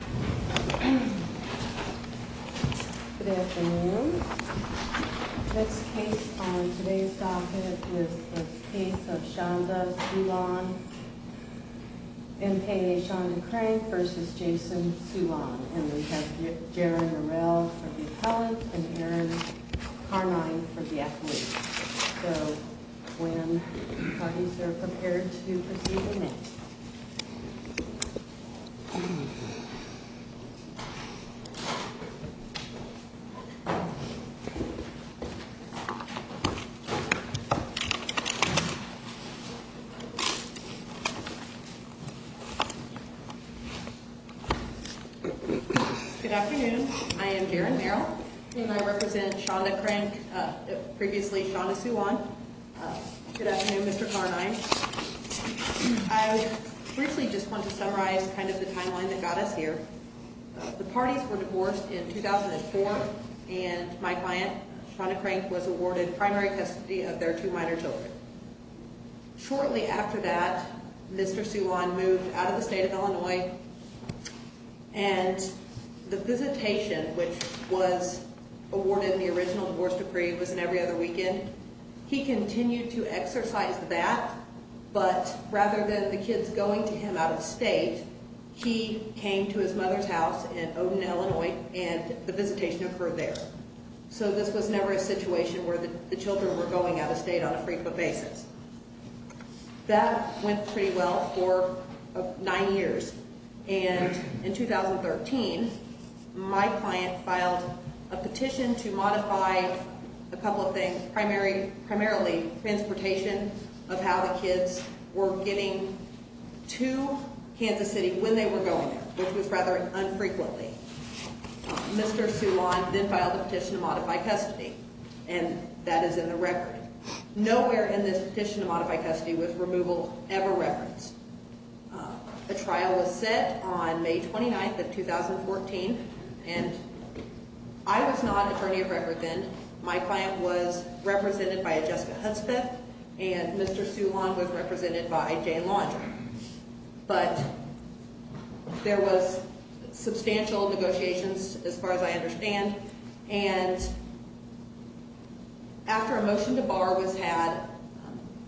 Good afternoon. This case on today's docket is the case of Shonda Soulon, MPA Shonda Crane v. Jason Soulon. And we have Jaron Morrell for the appellant and Aaron Carmine for the athlete. So, when you guys are prepared to proceed, we'll meet. Good afternoon. I am Jaron Morrell, and I represent Shonda Crane, previously Shonda Soulon. Good afternoon, Mr. Carmine. I briefly just want to summarize kind of the timeline that got us here. The parties were divorced in 2004, and my client, Shonda Crane, was awarded primary custody of their two minor children. Shortly after that, Mr. Soulon moved out of the state of Illinois, and the visitation, which was awarded in the original divorce decree, was in every other weekend. And he continued to exercise that, but rather than the kids going to him out of state, he came to his mother's house in Oden, Illinois, and the visitation occurred there. So this was never a situation where the children were going out of state on a frequent basis. That went pretty well for nine years. And in 2013, my client filed a petition to modify a couple of things, primarily transportation of how the kids were getting to Kansas City when they were going there, which was rather infrequently. Mr. Soulon then filed a petition to modify custody, and that is in the record. Nowhere in this petition to modify custody was removal ever referenced. A trial was set on May 29th of 2014, and I was not attorney of record then. My client was represented by a Jessica Hudspeth, and Mr. Soulon was represented by Jane Laundrie. But there was substantial negotiations as far as I understand, and after a motion to bar was had,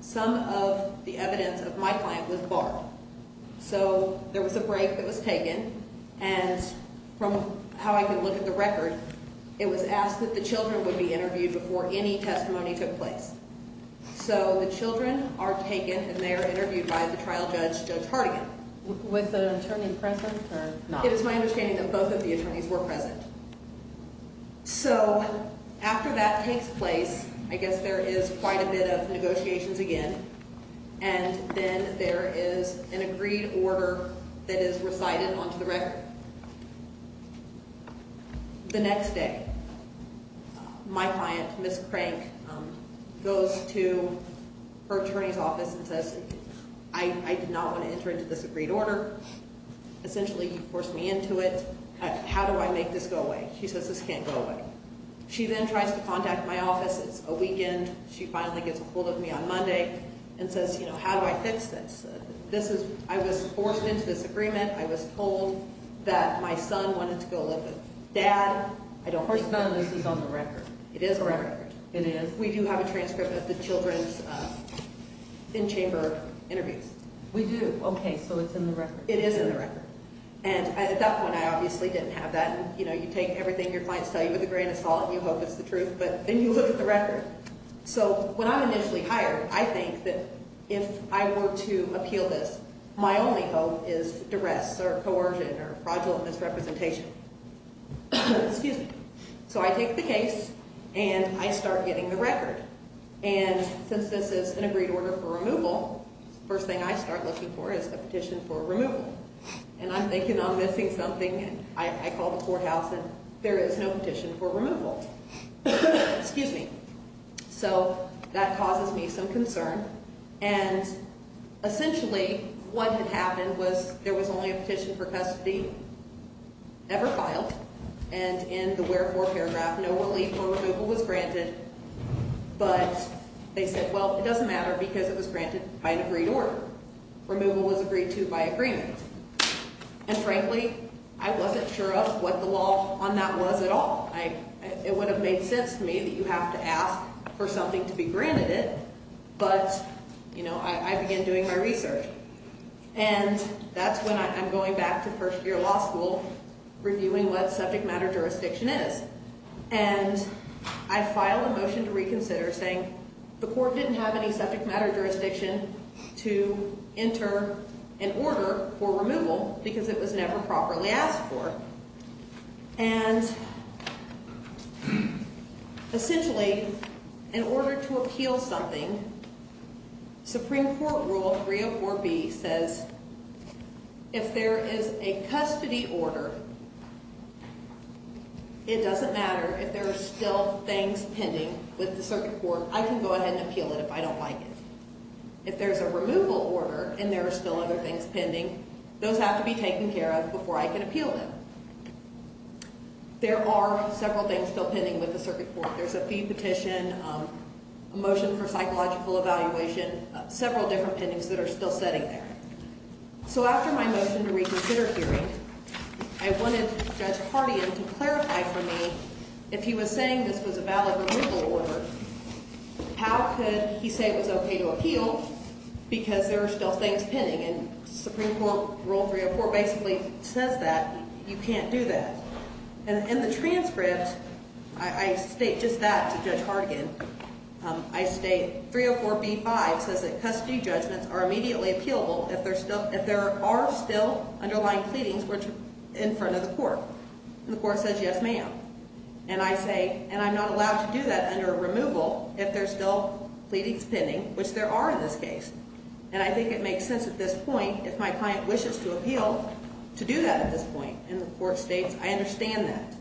some of the evidence of my client was barred. So there was a break that was taken, and from how I could look at the record, it was asked that the children would be interviewed before any testimony took place. So the children are taken, and they are interviewed by the trial judge, Judge Hardigan. Was the attorney present or not? It is my understanding that both of the attorneys were present. So after that takes place, I guess there is quite a bit of negotiations again, and then there is an agreed order that is recited onto the record. The next day, my client, Ms. Crank, goes to her attorney's office and says, I did not want to enter into this agreed order. Essentially, you forced me into it. How do I make this go away? She says, this can't go away. She then tries to contact my office. It's a weekend. She finally gets a hold of me on Monday and says, how do I fix this? I was forced into this agreement. I was told that my son wanted to go live with dad. I don't think this is on the record. It is on the record. It is? We do have a transcript of the children's in-chamber interviews. We do? Okay, so it's in the record. It is in the record. And at that point, I obviously didn't have that. You know, you take everything your clients tell you with a grain of salt, and you hope it's the truth, but then you look at the record. So when I'm initially hired, I think that if I were to appeal this, my only hope is duress or coercion or fraudulence representation. Excuse me. So I take the case, and I start getting the record. And since this is an agreed order for removal, the first thing I start looking for is a petition for removal. And I'm thinking I'm missing something, and I call the courthouse, and there is no petition for removal. Excuse me. So that causes me some concern. And essentially, what had happened was there was only a petition for custody ever filed. And in the wherefore paragraph, no relief or removal was granted. But they said, well, it doesn't matter because it was granted by an agreed order. Removal was agreed to by agreement. And frankly, I wasn't sure of what the law on that was at all. It would have made sense to me that you have to ask for something to be granted it, but, you know, I began doing my research. And that's when I'm going back to first year law school reviewing what subject matter jurisdiction is. And I file a motion to reconsider saying the court didn't have any subject matter jurisdiction to enter an order for removal because it was never properly asked for. And essentially, in order to appeal something, Supreme Court Rule 304B says if there is a custody order, it doesn't matter. If there are still things pending with the circuit court, I can go ahead and appeal it if I don't like it. If there's a removal order and there are still other things pending, those have to be taken care of before I can appeal them. There are several things still pending with the circuit court. There's a fee petition, a motion for psychological evaluation, several different things that are still sitting there. So after my motion to reconsider hearing, I wanted Judge Hardigan to clarify for me if he was saying this was a valid removal order, how could he say it was okay to appeal because there are still things pending? And Supreme Court Rule 304 basically says that. You can't do that. In the transcript, I state just that to Judge Hardigan. I state 304B-5 says that custody judgments are immediately appealable if there are still underlying pleadings in front of the court. And the court says, yes, ma'am. And I say, and I'm not allowed to do that under a removal if there's still pleadings pending, which there are in this case. And I think it makes sense at this point, if my client wishes to appeal, to do that at this point. And the court states, I understand that.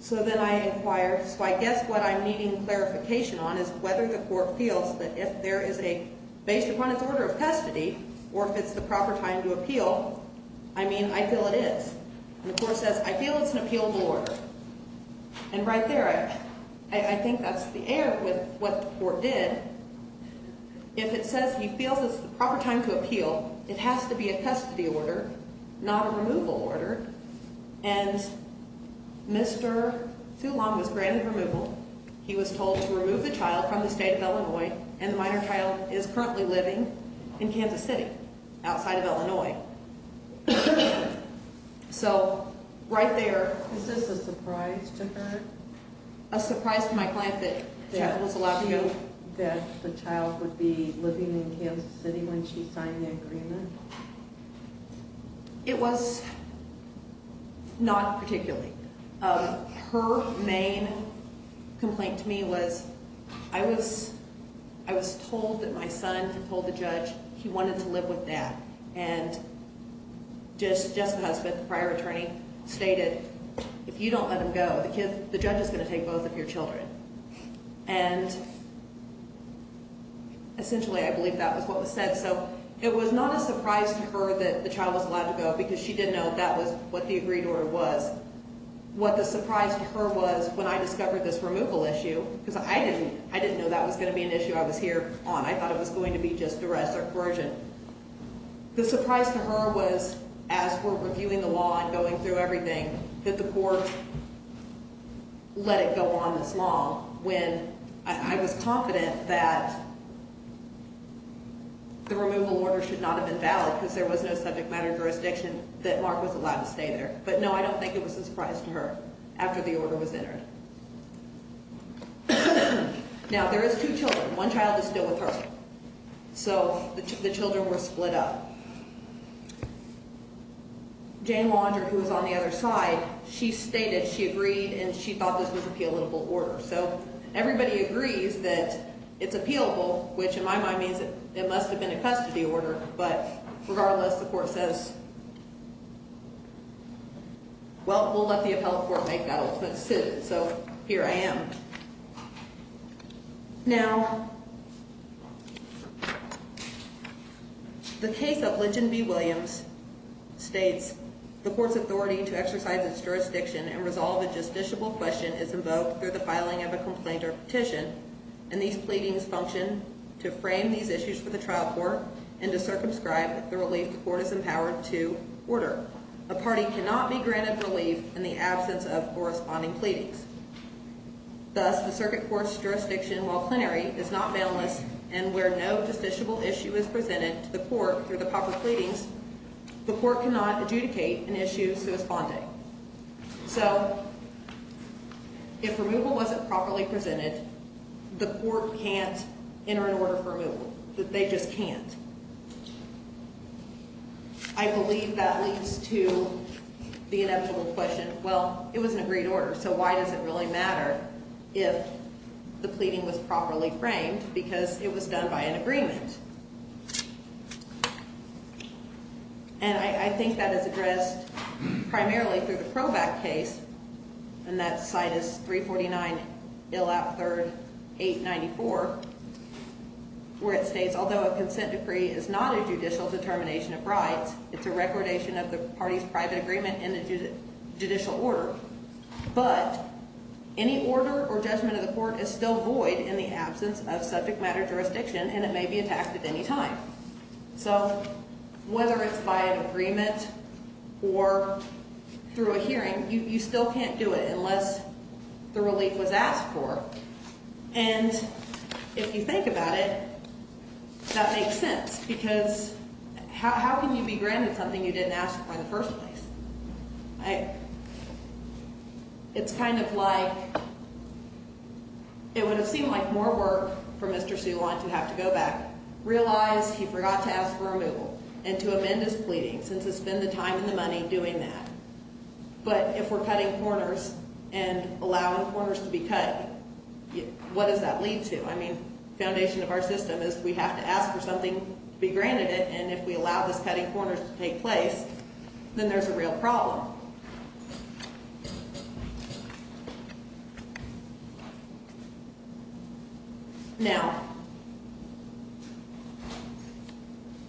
So then I inquire. So I guess what I'm needing clarification on is whether the court feels that if there is a, based upon its order of custody, or if it's the proper time to appeal, I mean, I feel it is. And the court says, I feel it's an appealable order. And right there, I think that's the error with what the court did. If it says he feels it's the proper time to appeal, it has to be a custody order, not a removal order. And Mr. Toulon was granted removal. He was told to remove the child from the state of Illinois. And the minor child is currently living in Kansas City, outside of Illinois. So right there. Is this a surprise to her? A surprise to my client that the child was allowed to go? That the child would be living in Kansas City when she signed the agreement? It was not particularly. Her main complaint to me was, I was told that my son had told the judge he wanted to live with dad. And Jessica's husband, the prior attorney, stated, if you don't let him go, the judge is going to take both of your children. And essentially, I believe that was what was said. So it was not a surprise to her that the child was allowed to go, because she didn't know that was what the agreed order was. What the surprise to her was, when I discovered this removal issue, because I didn't know that was going to be an issue I was here on. I thought it was going to be just duress or coercion. The surprise to her was, as we're reviewing the law and going through everything, that the court let it go on this law. When I was confident that the removal order should not have been valid, because there was no subject matter jurisdiction that Mark was allowed to stay there. But no, I don't think it was a surprise to her, after the order was entered. Now, there is two children. One child is still with her. So the children were split up. Jane Wander, who was on the other side, she stated she agreed and she thought this was an appealable order. So everybody agrees that it's appealable, which in my mind means it must have been a custody order. But regardless, the court says, well, we'll let the appellate court make that ultimate decision. So here I am. Now, the case of Lynch and B. Williams states, the court's authority to exercise its jurisdiction and resolve a justiciable question is invoked through the filing of a complaint or petition. And these pleadings function to frame these issues for the trial court and to circumscribe the relief the court is empowered to order. A party cannot be granted relief in the absence of corresponding pleadings. Thus, the circuit court's jurisdiction, while plenary, is not bail-less, and where no justiciable issue is presented to the court through the proper pleadings, the court cannot adjudicate an issue corresponding. So, if removal wasn't properly presented, the court can't enter an order for removal. They just can't. I believe that leads to the inevitable question, well, it was an agreed order, so why does it really matter? If the pleading was properly framed, because it was done by an agreement. And I think that is addressed primarily through the Proback case, and that site is 349 Illap 3rd 894, where it states, although a consent decree is not a judicial determination of rights, it's a recordation of the party's private agreement in a judicial order. But any order or judgment of the court is still void in the absence of subject matter jurisdiction, and it may be attacked at any time. So, whether it's by an agreement or through a hearing, you still can't do it unless the relief was asked for. And if you think about it, that makes sense, because how can you be granted something you didn't ask for in the first place? It's kind of like, it would have seemed like more work for Mr. Sulon to have to go back, realize he forgot to ask for removal, and to amend his pleading, since it's been the time and the money doing that. But if we're cutting corners and allowing corners to be cut, what does that lead to? I mean, the foundation of our system is we have to ask for something to be granted it, and if we allow those cutting corners to take place, then there's a real problem. Now,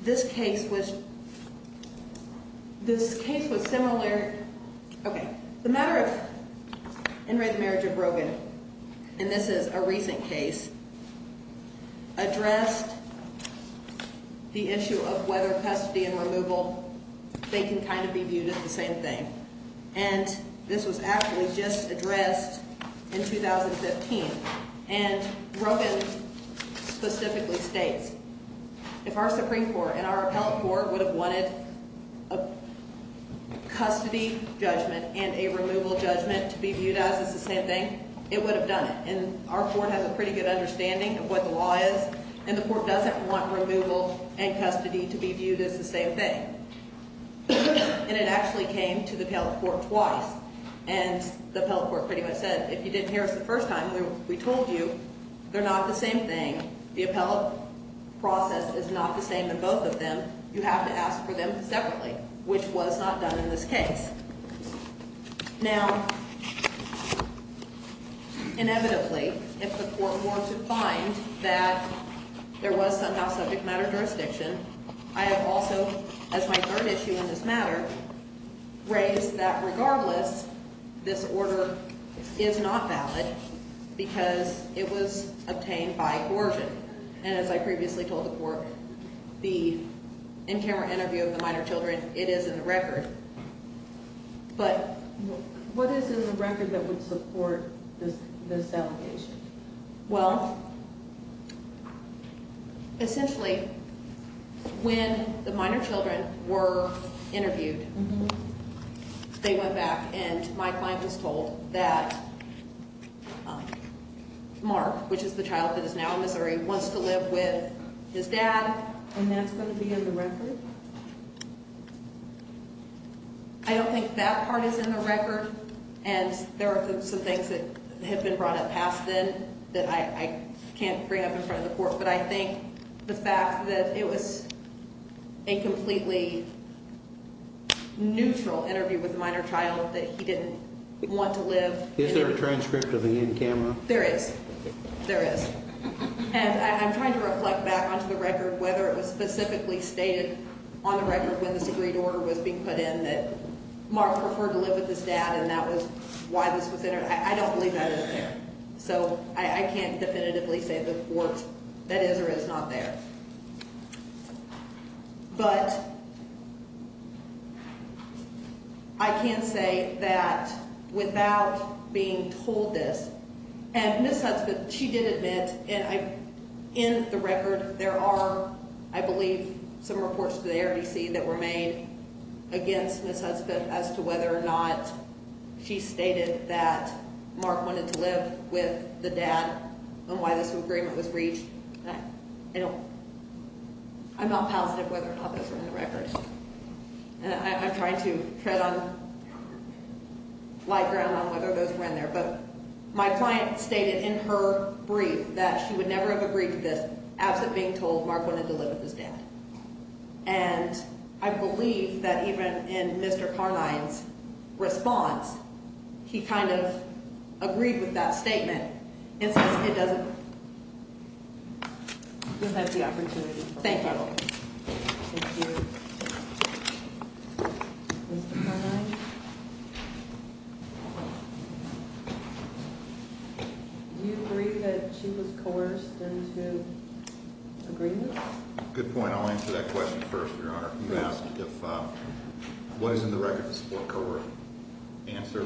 this case was similar, okay, the matter of In re the Marriage of Brogan, and this is a recent case, addressed the issue of whether custody and removal, they can kind of be viewed as the same thing. And this was actually just addressed in 2015, and Brogan specifically states, if our Supreme Court and our appellate court would have wanted a custody judgment and a removal judgment to be viewed as the same thing, it would have done it, and our court has a pretty good understanding of what the law is, and the court doesn't want removal and custody to be viewed as the same thing. And it actually came to the appellate court twice, and the appellate court pretty much said, if you didn't hear us the first time, we told you, they're not the same thing. The appellate process is not the same in both of them. You have to ask for them separately, which was not done in this case. Now, inevitably, if the court were to find that there was somehow subject matter jurisdiction, I have also, as my third issue in this matter, raised that regardless, this order is not valid because it was obtained by Gorgon. And as I previously told the court, the in-camera interview of the minor children, it is in the record. But what is in the record that would support this allegation? Well, essentially, when the minor children were interviewed, they went back and my client was told that Mark, which is the child that is now in Missouri, wants to live with his dad. And that's going to be in the record? I don't think that part is in the record. And there are some things that have been brought up past then that I can't bring up in front of the court. But I think the fact that it was a completely neutral interview with a minor child, that he didn't want to live. Is there a transcript of the in-camera? There is. There is. And I'm trying to reflect back onto the record whether it was specifically stated on the record when this agreed order was being put in that Mark preferred to live with his dad and that was why this was entered. I don't believe that is there. So I can't definitively say to the court that is or is not there. But I can say that without being told this, and Ms. Hudspeth, she did admit in the record there are, I believe, some reports to the ARDC that were made against Ms. Hudspeth as to whether or not she stated that Mark wanted to live with the dad and why this agreement was reached. I don't, I'm not positive whether or not those are in the record. And I'm trying to tread on light ground on whether those were in there. But my client stated in her brief that she would never have agreed to this absent being told Mark wanted to live with his dad. And I believe that even in Mr. Carnine's response, he kind of agreed with that statement. It's just it doesn't, it doesn't have the opportunity. Thank you. Thank you. Mr. Carnine? Do you agree that she was coerced into agreement? Good point. I'll answer that question first, Your Honor. Please. What is in the record to support her answer?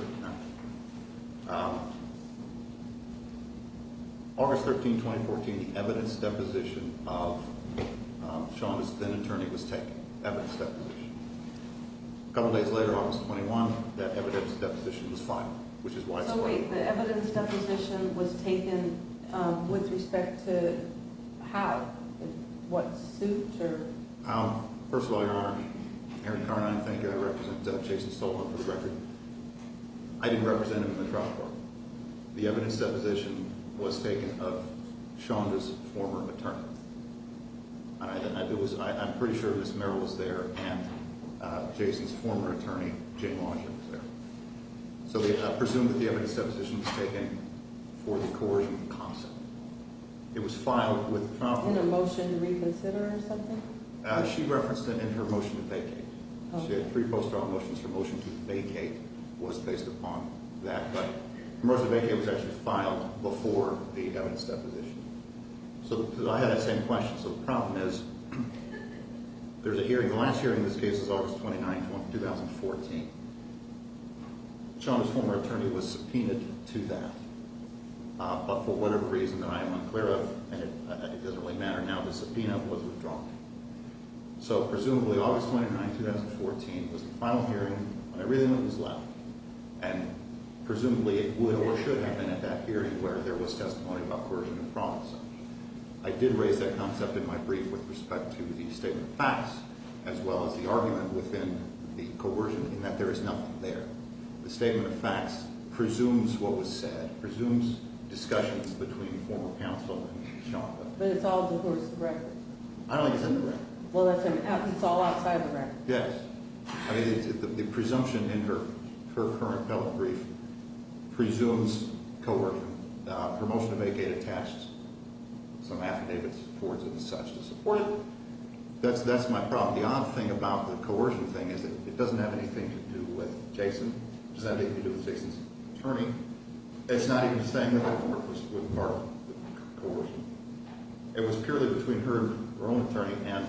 August 13, 2014, the evidence deposition of Sean's then-attorney was taken, evidence deposition. A couple days later, August 21, that evidence deposition was filed, which is why it's filed. So wait, the evidence deposition was taken with respect to how, what suit or? First of all, Your Honor, Erin Carnine, thank you. I represent Jason Stoltman for the record. I didn't represent him in the trial court. The evidence deposition was taken of Sean's former attorney. I'm pretty sure Ms. Merrill was there and Jason's former attorney, Jane Washington, was there. So I presume that the evidence deposition was taken for the coercion concept. It was filed with the trial court. Was it in a motion to reconsider or something? She referenced it in her motion to vacate. She had three post-trial motions. Her motion to vacate was based upon that. Her motion to vacate was actually filed before the evidence deposition. So I had that same question. So the problem is there's a hearing. The last hearing in this case is August 29, 2014. Sean's former attorney was subpoenaed to that. But for whatever reason that I am unclear of, and it doesn't really matter now, the subpoena was withdrawn. So presumably August 29, 2014 was the final hearing when everything was left. And presumably it would or should have been at that hearing where there was testimony about coercion and promising. I did raise that concept in my brief with respect to the statement of facts as well as the argument within the coercion in that there is nothing there. The statement of facts presumes what was said, presumes discussions between former counsel and Sean. But it's all of course the record. I don't think it's in the record. Well, that's what I mean. It's all outside the record. Yes. I mean, the presumption in her current health brief presumes coercion. Her motion to vacate attached some affidavits towards it as such to support it. That's my problem. Well, the odd thing about the coercion thing is that it doesn't have anything to do with Jason. It doesn't have anything to do with Jason's attorney. It's not even the same with her part of the coercion. It was purely between her and her own attorney. And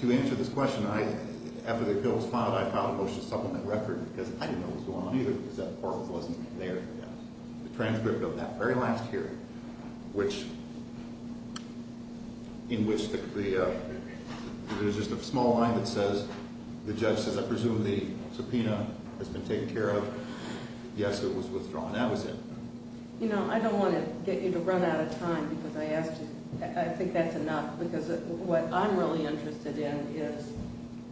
to answer this question, after the appeal was filed, I filed a motion to supplement the record because I didn't know what was going on either because that part wasn't there yet. The transcript of that very last hearing, in which there's just a small line that says, the judge says, I presume the subpoena has been taken care of. Yes, it was withdrawn. That was it. You know, I don't want to get you to run out of time because I think that's enough. Because what I'm really interested in is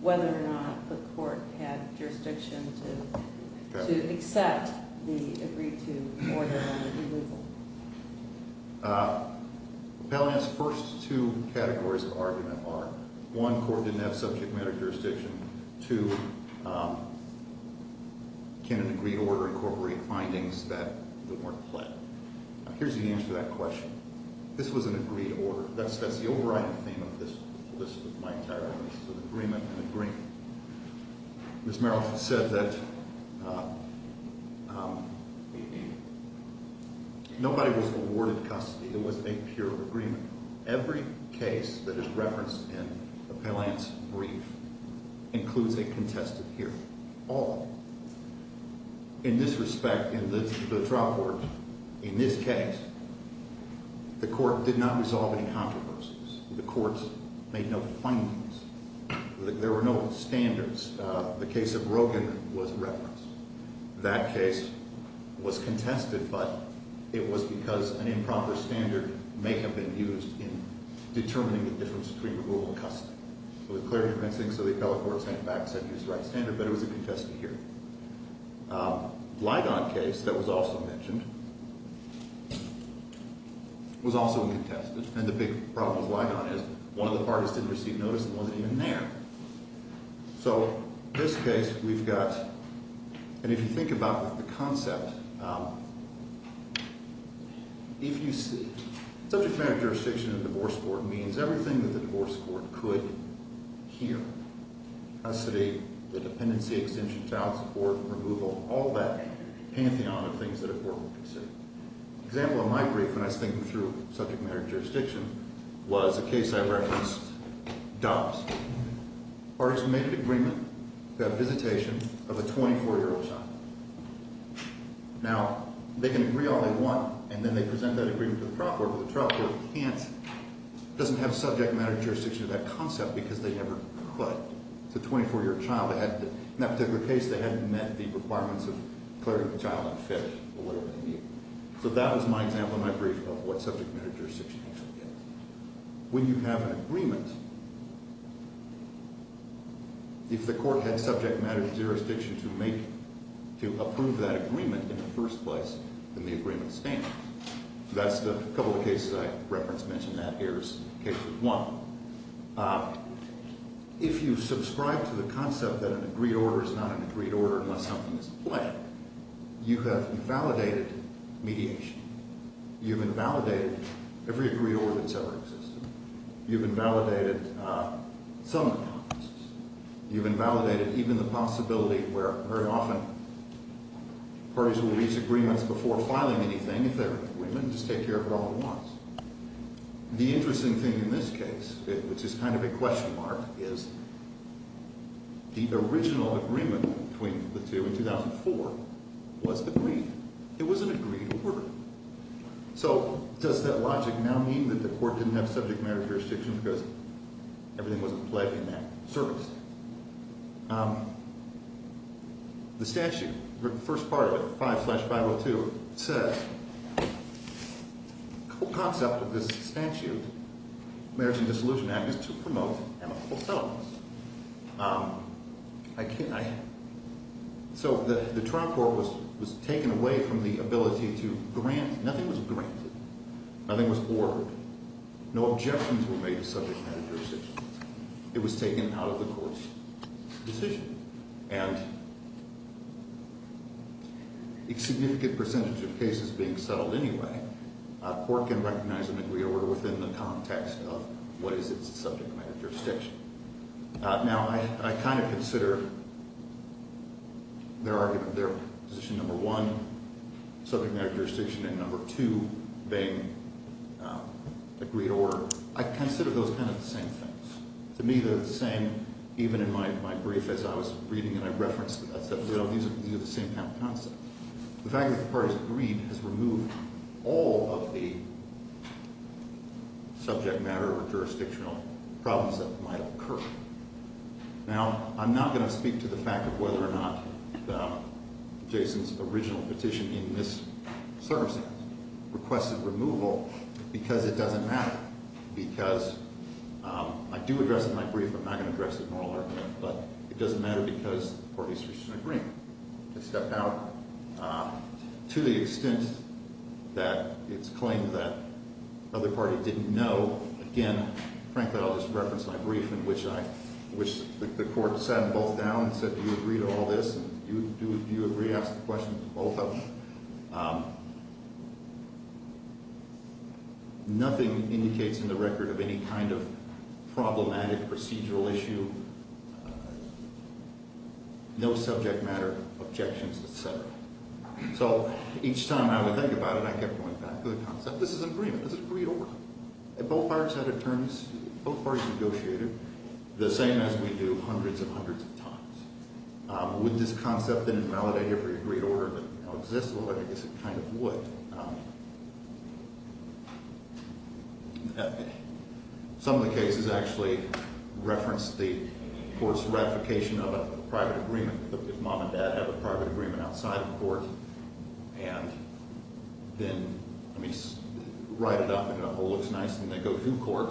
whether or not the court had jurisdiction to accept the agreed to order on the removal. Appellant's first two categories of argument are, one, court didn't have subject matter jurisdiction. Two, can an agreed order incorporate findings that weren't pled? Here's the answer to that question. This was an agreed order. That's the overriding theme of this list, of my entire list, of agreement and agreement. Ms. Merrill said that nobody was awarded custody. It was a pure agreement. Every case that is referenced in Appellant's brief includes a contested hearing, all of them. In this respect, in the trial court, in this case, the court did not resolve any controversies. The courts made no findings. There were no standards. The case of Rogin was referenced. That case was contested, but it was because an improper standard may have been used in determining the difference between removal and custody. It was clearly convincing, so the appellate court sent it back and said, here's the right standard, but it was a contested hearing. Ligon case that was also mentioned was also contested. And the big problem with Ligon is one of the parties didn't receive notice and wasn't even there. So, in this case, we've got, and if you think about the concept, if you see, subject matter jurisdiction in a divorce court means everything that the divorce court could hear. Custody, the dependency, exemption, child support, removal, all that pantheon of things that a court would consider. An example of my brief when I was thinking through subject matter jurisdiction was a case I referenced, Dobbs. Parties made an agreement to have visitation of a 24-year-old child. Now, they can agree all they want, and then they present that agreement to the trial court, but the trial court can't, doesn't have subject matter jurisdiction to that concept because they never could. It's a 24-year-old child. In that particular case, they hadn't met the requirements of clarity of the child, unfit, or whatever they need. So that was my example in my brief of what subject matter jurisdiction is. When you have an agreement, if the court had subject matter jurisdiction to make, to approve that agreement in the first place, then the agreement stands. That's the couple of cases I referenced, mentioned that here as cases one. If you subscribe to the concept that an agreed order is not an agreed order unless something is planned, you have invalidated mediation. You've invalidated every agreed order that's ever existed. You've invalidated some of the promises. You've invalidated even the possibility where very often parties will reach agreements before filing anything. If they're in agreement, just take care of it all at once. The interesting thing in this case, which is kind of a question mark, is the original agreement between the two in 2004 was agreed. It was an agreed order. So does that logic now mean that the court didn't have subject matter jurisdiction because everything wasn't played in that service? The statute, the first part of it, 5-502, says the whole concept of this statute, Marriage and Dissolution Act, is to promote amicable settlements. So the trial court was taken away from the ability to grant. Nothing was granted. Nothing was ordered. No objections were made to subject matter jurisdiction. It was taken out of the court's decision. And a significant percentage of cases being settled anyway, a court can recognize an agreed order within the context of what is its subject matter jurisdiction. Now, I kind of consider their position number one, subject matter jurisdiction, and number two being agreed order. I consider those kind of the same things. To me, they're the same even in my brief as I was reading and I referenced them. These are the same kind of concepts. The fact that the parties agreed has removed all of the subject matter or jurisdictional problems that might occur. Now, I'm not going to speak to the fact of whether or not Jason's original petition in this circumstance requested removal because it doesn't matter. Because I do address it in my brief, I'm not going to address it in oral argument, but it doesn't matter because the parties reached an agreement. They stepped out. To the extent that it's claimed that the other party didn't know, again, frankly, I'll just reference my brief in which the court sat them both down and said, Do you agree to all this? Do you agree to ask the questions of both of them? Nothing indicates in the record of any kind of problematic procedural issue. No subject matter, objections, et cetera. So each time I would think about it, I kept going back to the concept. This is an agreement. This is agreed over. Both parties had a terms. Both parties negotiated the same as we do hundreds and hundreds of times. Would this concept then invalidate every agreed order that now exists? Well, I guess it kind of would. Some of the cases actually reference the court's ratification of a private agreement. If mom and dad have a private agreement outside of court and then write it up and it all looks nice and they go to court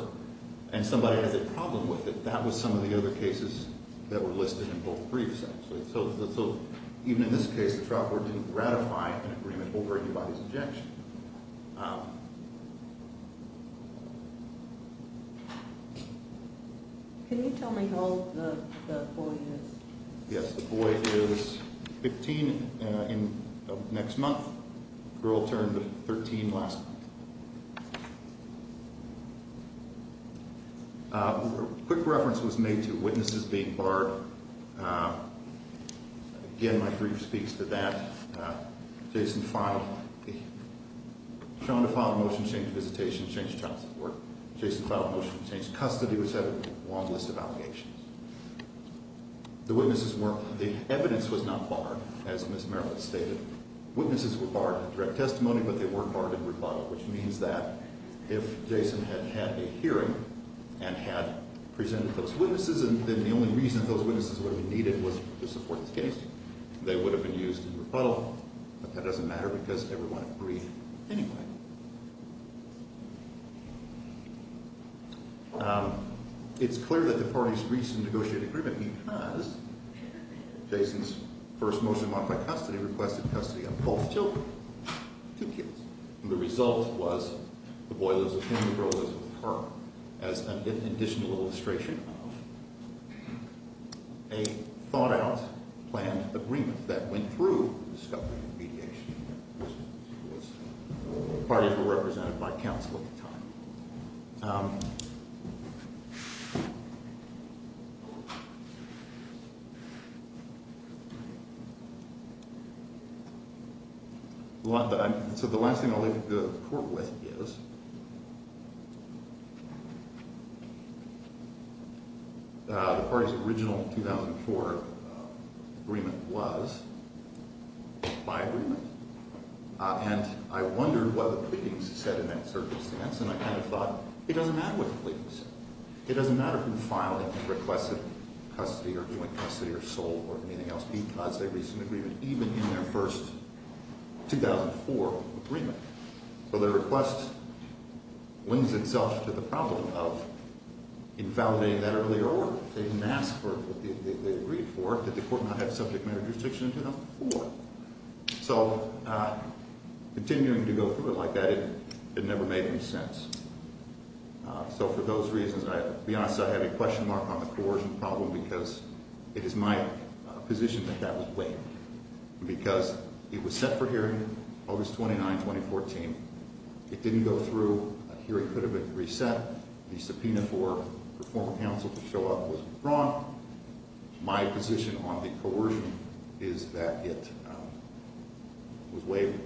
and somebody has a problem with it, that was some of the other cases that were listed in both briefs, actually. So even in this case, the trial court didn't ratify an agreement over anybody's objection. Can you tell me how old the boy is? Yes, the boy is 15 next month. Girl turned 13 last month. Quick reference was made to witnesses being barred. Again, my brief speaks to that. Jason filed a motion to change visitation, change child support. Jason filed a motion to change custody, which had a long list of allegations. The evidence was not barred, as Ms. Merrill had stated. Witnesses were barred in direct testimony, but they weren't barred in rebuttal, which means that if Jason had had a hearing and had presented those witnesses, then the only reason those witnesses would have been needed was to support his case. They would have been used in rebuttal, but that doesn't matter because everyone agreed anyway. It's clear that the parties reached a negotiated agreement because Jason's first motion went by custody, requested custody of both children, two kids. The result was the boy lives with him, the girl lives with her, as an additional illustration of a thought-out planned agreement that went through the discovery of mediation. The parties were represented by counsel at the time. So the last thing I'll leave the court with is the parties' original 2004 agreement was by agreement, and I wondered what the pleadings said in that circumstance, and I kind of thought, it doesn't matter what the pleadings said. It doesn't matter who filed it and requested custody or joint custody or sold or anything else because they reached an agreement even in their first 2004 agreement. So the request lends itself to the problem of invalidating that earlier order. They didn't ask for what they agreed for. Did the court not have subject matter jurisdiction in 2004? So continuing to go through it like that, it never made any sense. So for those reasons, to be honest, I have a question mark on the coercion problem because it is my position that that would wait because it was set for hearing August 29, 2014. It didn't go through. A hearing could have been reset. The subpoena for a former counsel to show up was withdrawn. My position on the coercion is that it was waived.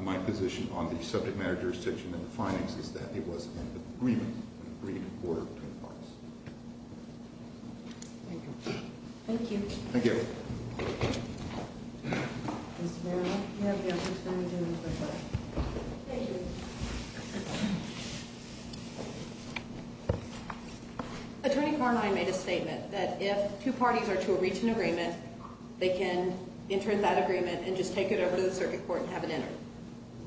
My position on the subject matter jurisdiction and the findings is that it was an agreement, an agreed order to the parties. Thank you. Thank you. Thank you. Mr. Marino, you have the opportunity to make a request. Thank you. Attorney Carmine made a statement that if two parties are to reach an agreement, they can enter that agreement and just take it over to the circuit court and have it entered.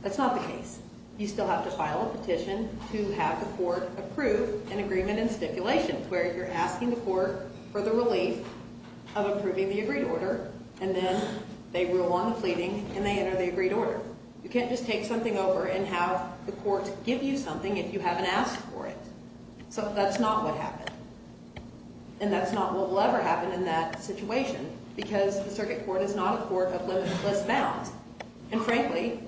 That's not the case. You still have to file a petition to have the court approve an agreement in stipulation where you're asking the court for the relief of approving the agreed order and then they rule on the pleading and they enter the agreed order. You can't just take something over and have the court give you something if you haven't asked for it. So that's not what happened, and that's not what will ever happen in that situation because the circuit court is not a court of limitless bounds. And frankly,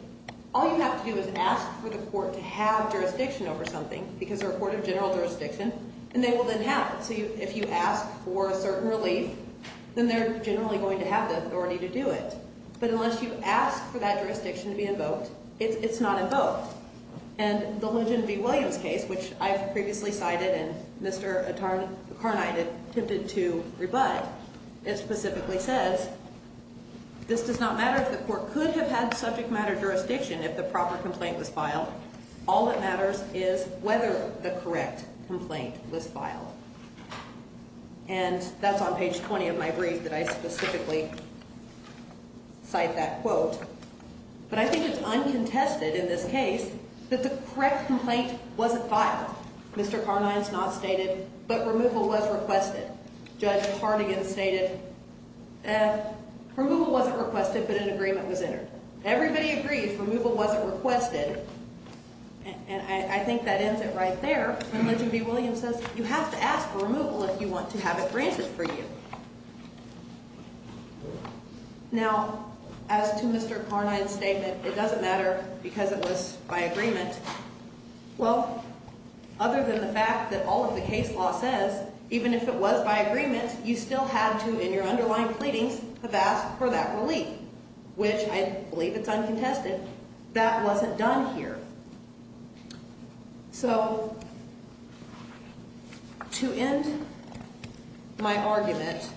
all you have to do is ask for the court to have jurisdiction over something because they're a court of general jurisdiction, and they will then have it. So if you ask for a certain relief, then they're generally going to have the authority to do it. But unless you ask for that jurisdiction to be invoked, it's not invoked. And the Lujan v. Williams case, which I've previously cited and Mr. Carnine attempted to rebut, it specifically says this does not matter if the court could have had subject matter jurisdiction if the proper complaint was filed. All that matters is whether the correct complaint was filed. And that's on page 20 of my brief that I specifically cite that quote. But I think it's uncontested in this case that the correct complaint wasn't filed. Mr. Carnine's not stated, but removal was requested. Judge Hardigan stated removal wasn't requested, but an agreement was entered. Everybody agreed removal wasn't requested, and I think that ends it right there. Lujan v. Williams says you have to ask for removal if you want to have it granted for you. Now, as to Mr. Carnine's statement, it doesn't matter because it was by agreement. Well, other than the fact that all of the case law says even if it was by agreement, you still have to, in your underlying pleadings, have asked for that relief, which I believe it's uncontested. That wasn't done here. So to end my argument,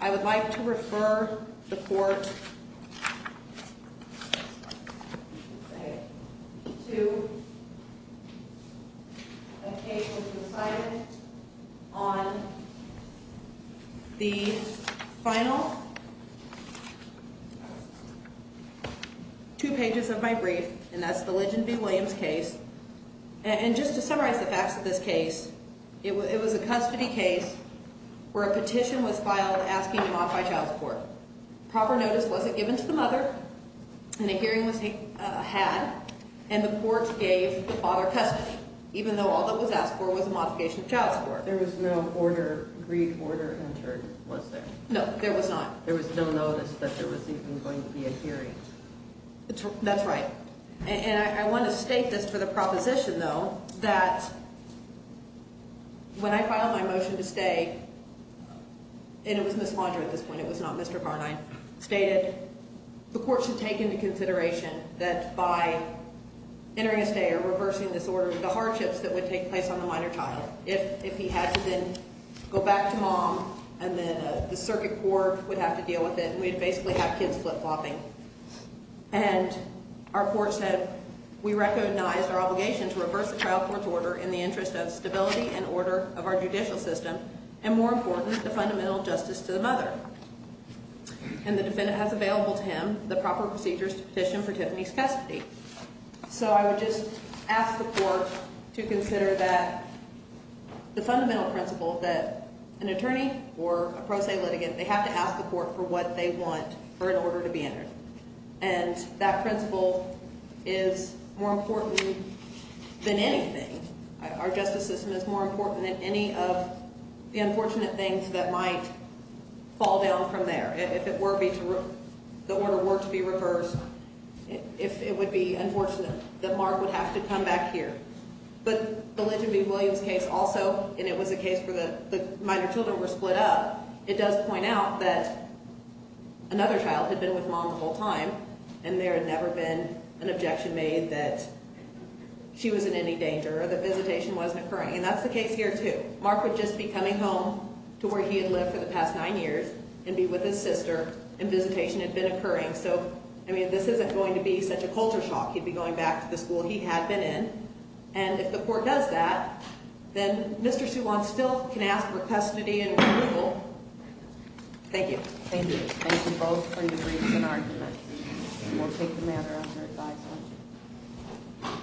I would like to refer the court to a case that was decided on the final two pages of my brief, and that's the Lujan v. Williams case. And just to summarize the facts of this case, it was a custody case where a petition was filed asking to modify child support. Proper notice wasn't given to the mother, and a hearing was had, and the court gave the father custody, even though all that was asked for was a modification of child support. There was no agreed order entered, was there? No, there was not. That's right. And I want to state this for the proposition, though, that when I filed my motion to stay, and it was Ms. Laundrie at this point, it was not Mr. Carnine, stated the court should take into consideration that by entering a stay or reversing this order, the hardships that would take place on the minor child, if he had to then go back to mom and then the circuit court would have to deal with it and we'd basically have kids flip-flopping. And our court said we recognize our obligation to reverse the trial court's order in the interest of stability and order of our judicial system, and more important, the fundamental justice to the mother. And the defendant has available to him the proper procedures to petition for Tiffany's custody. So I would just ask the court to consider that the fundamental principle that an attorney or a pro se litigant, they have to ask the court for what they want for an order to be entered. And that principle is more important than anything. Our justice system is more important than any of the unfortunate things that might fall down from there. If the order were to be reversed, if it would be unfortunate that Mark would have to come back here. But the Lynch and B. Williams case also, and it was a case where the minor children were split up, it does point out that another child had been with mom the whole time and there had never been an objection made that she was in any danger or the visitation wasn't occurring. And that's the case here too. Mark would just be coming home to where he had lived for the past nine years and be with his sister, and visitation had been occurring. So, I mean, this isn't going to be such a culture shock. He'd be going back to the school he had been in. And if the court does that, then Mr. Suwan still can ask for custody and removal. Thank you. Thank you. Thank you both for your briefs and arguments. And we'll take the matter under advice.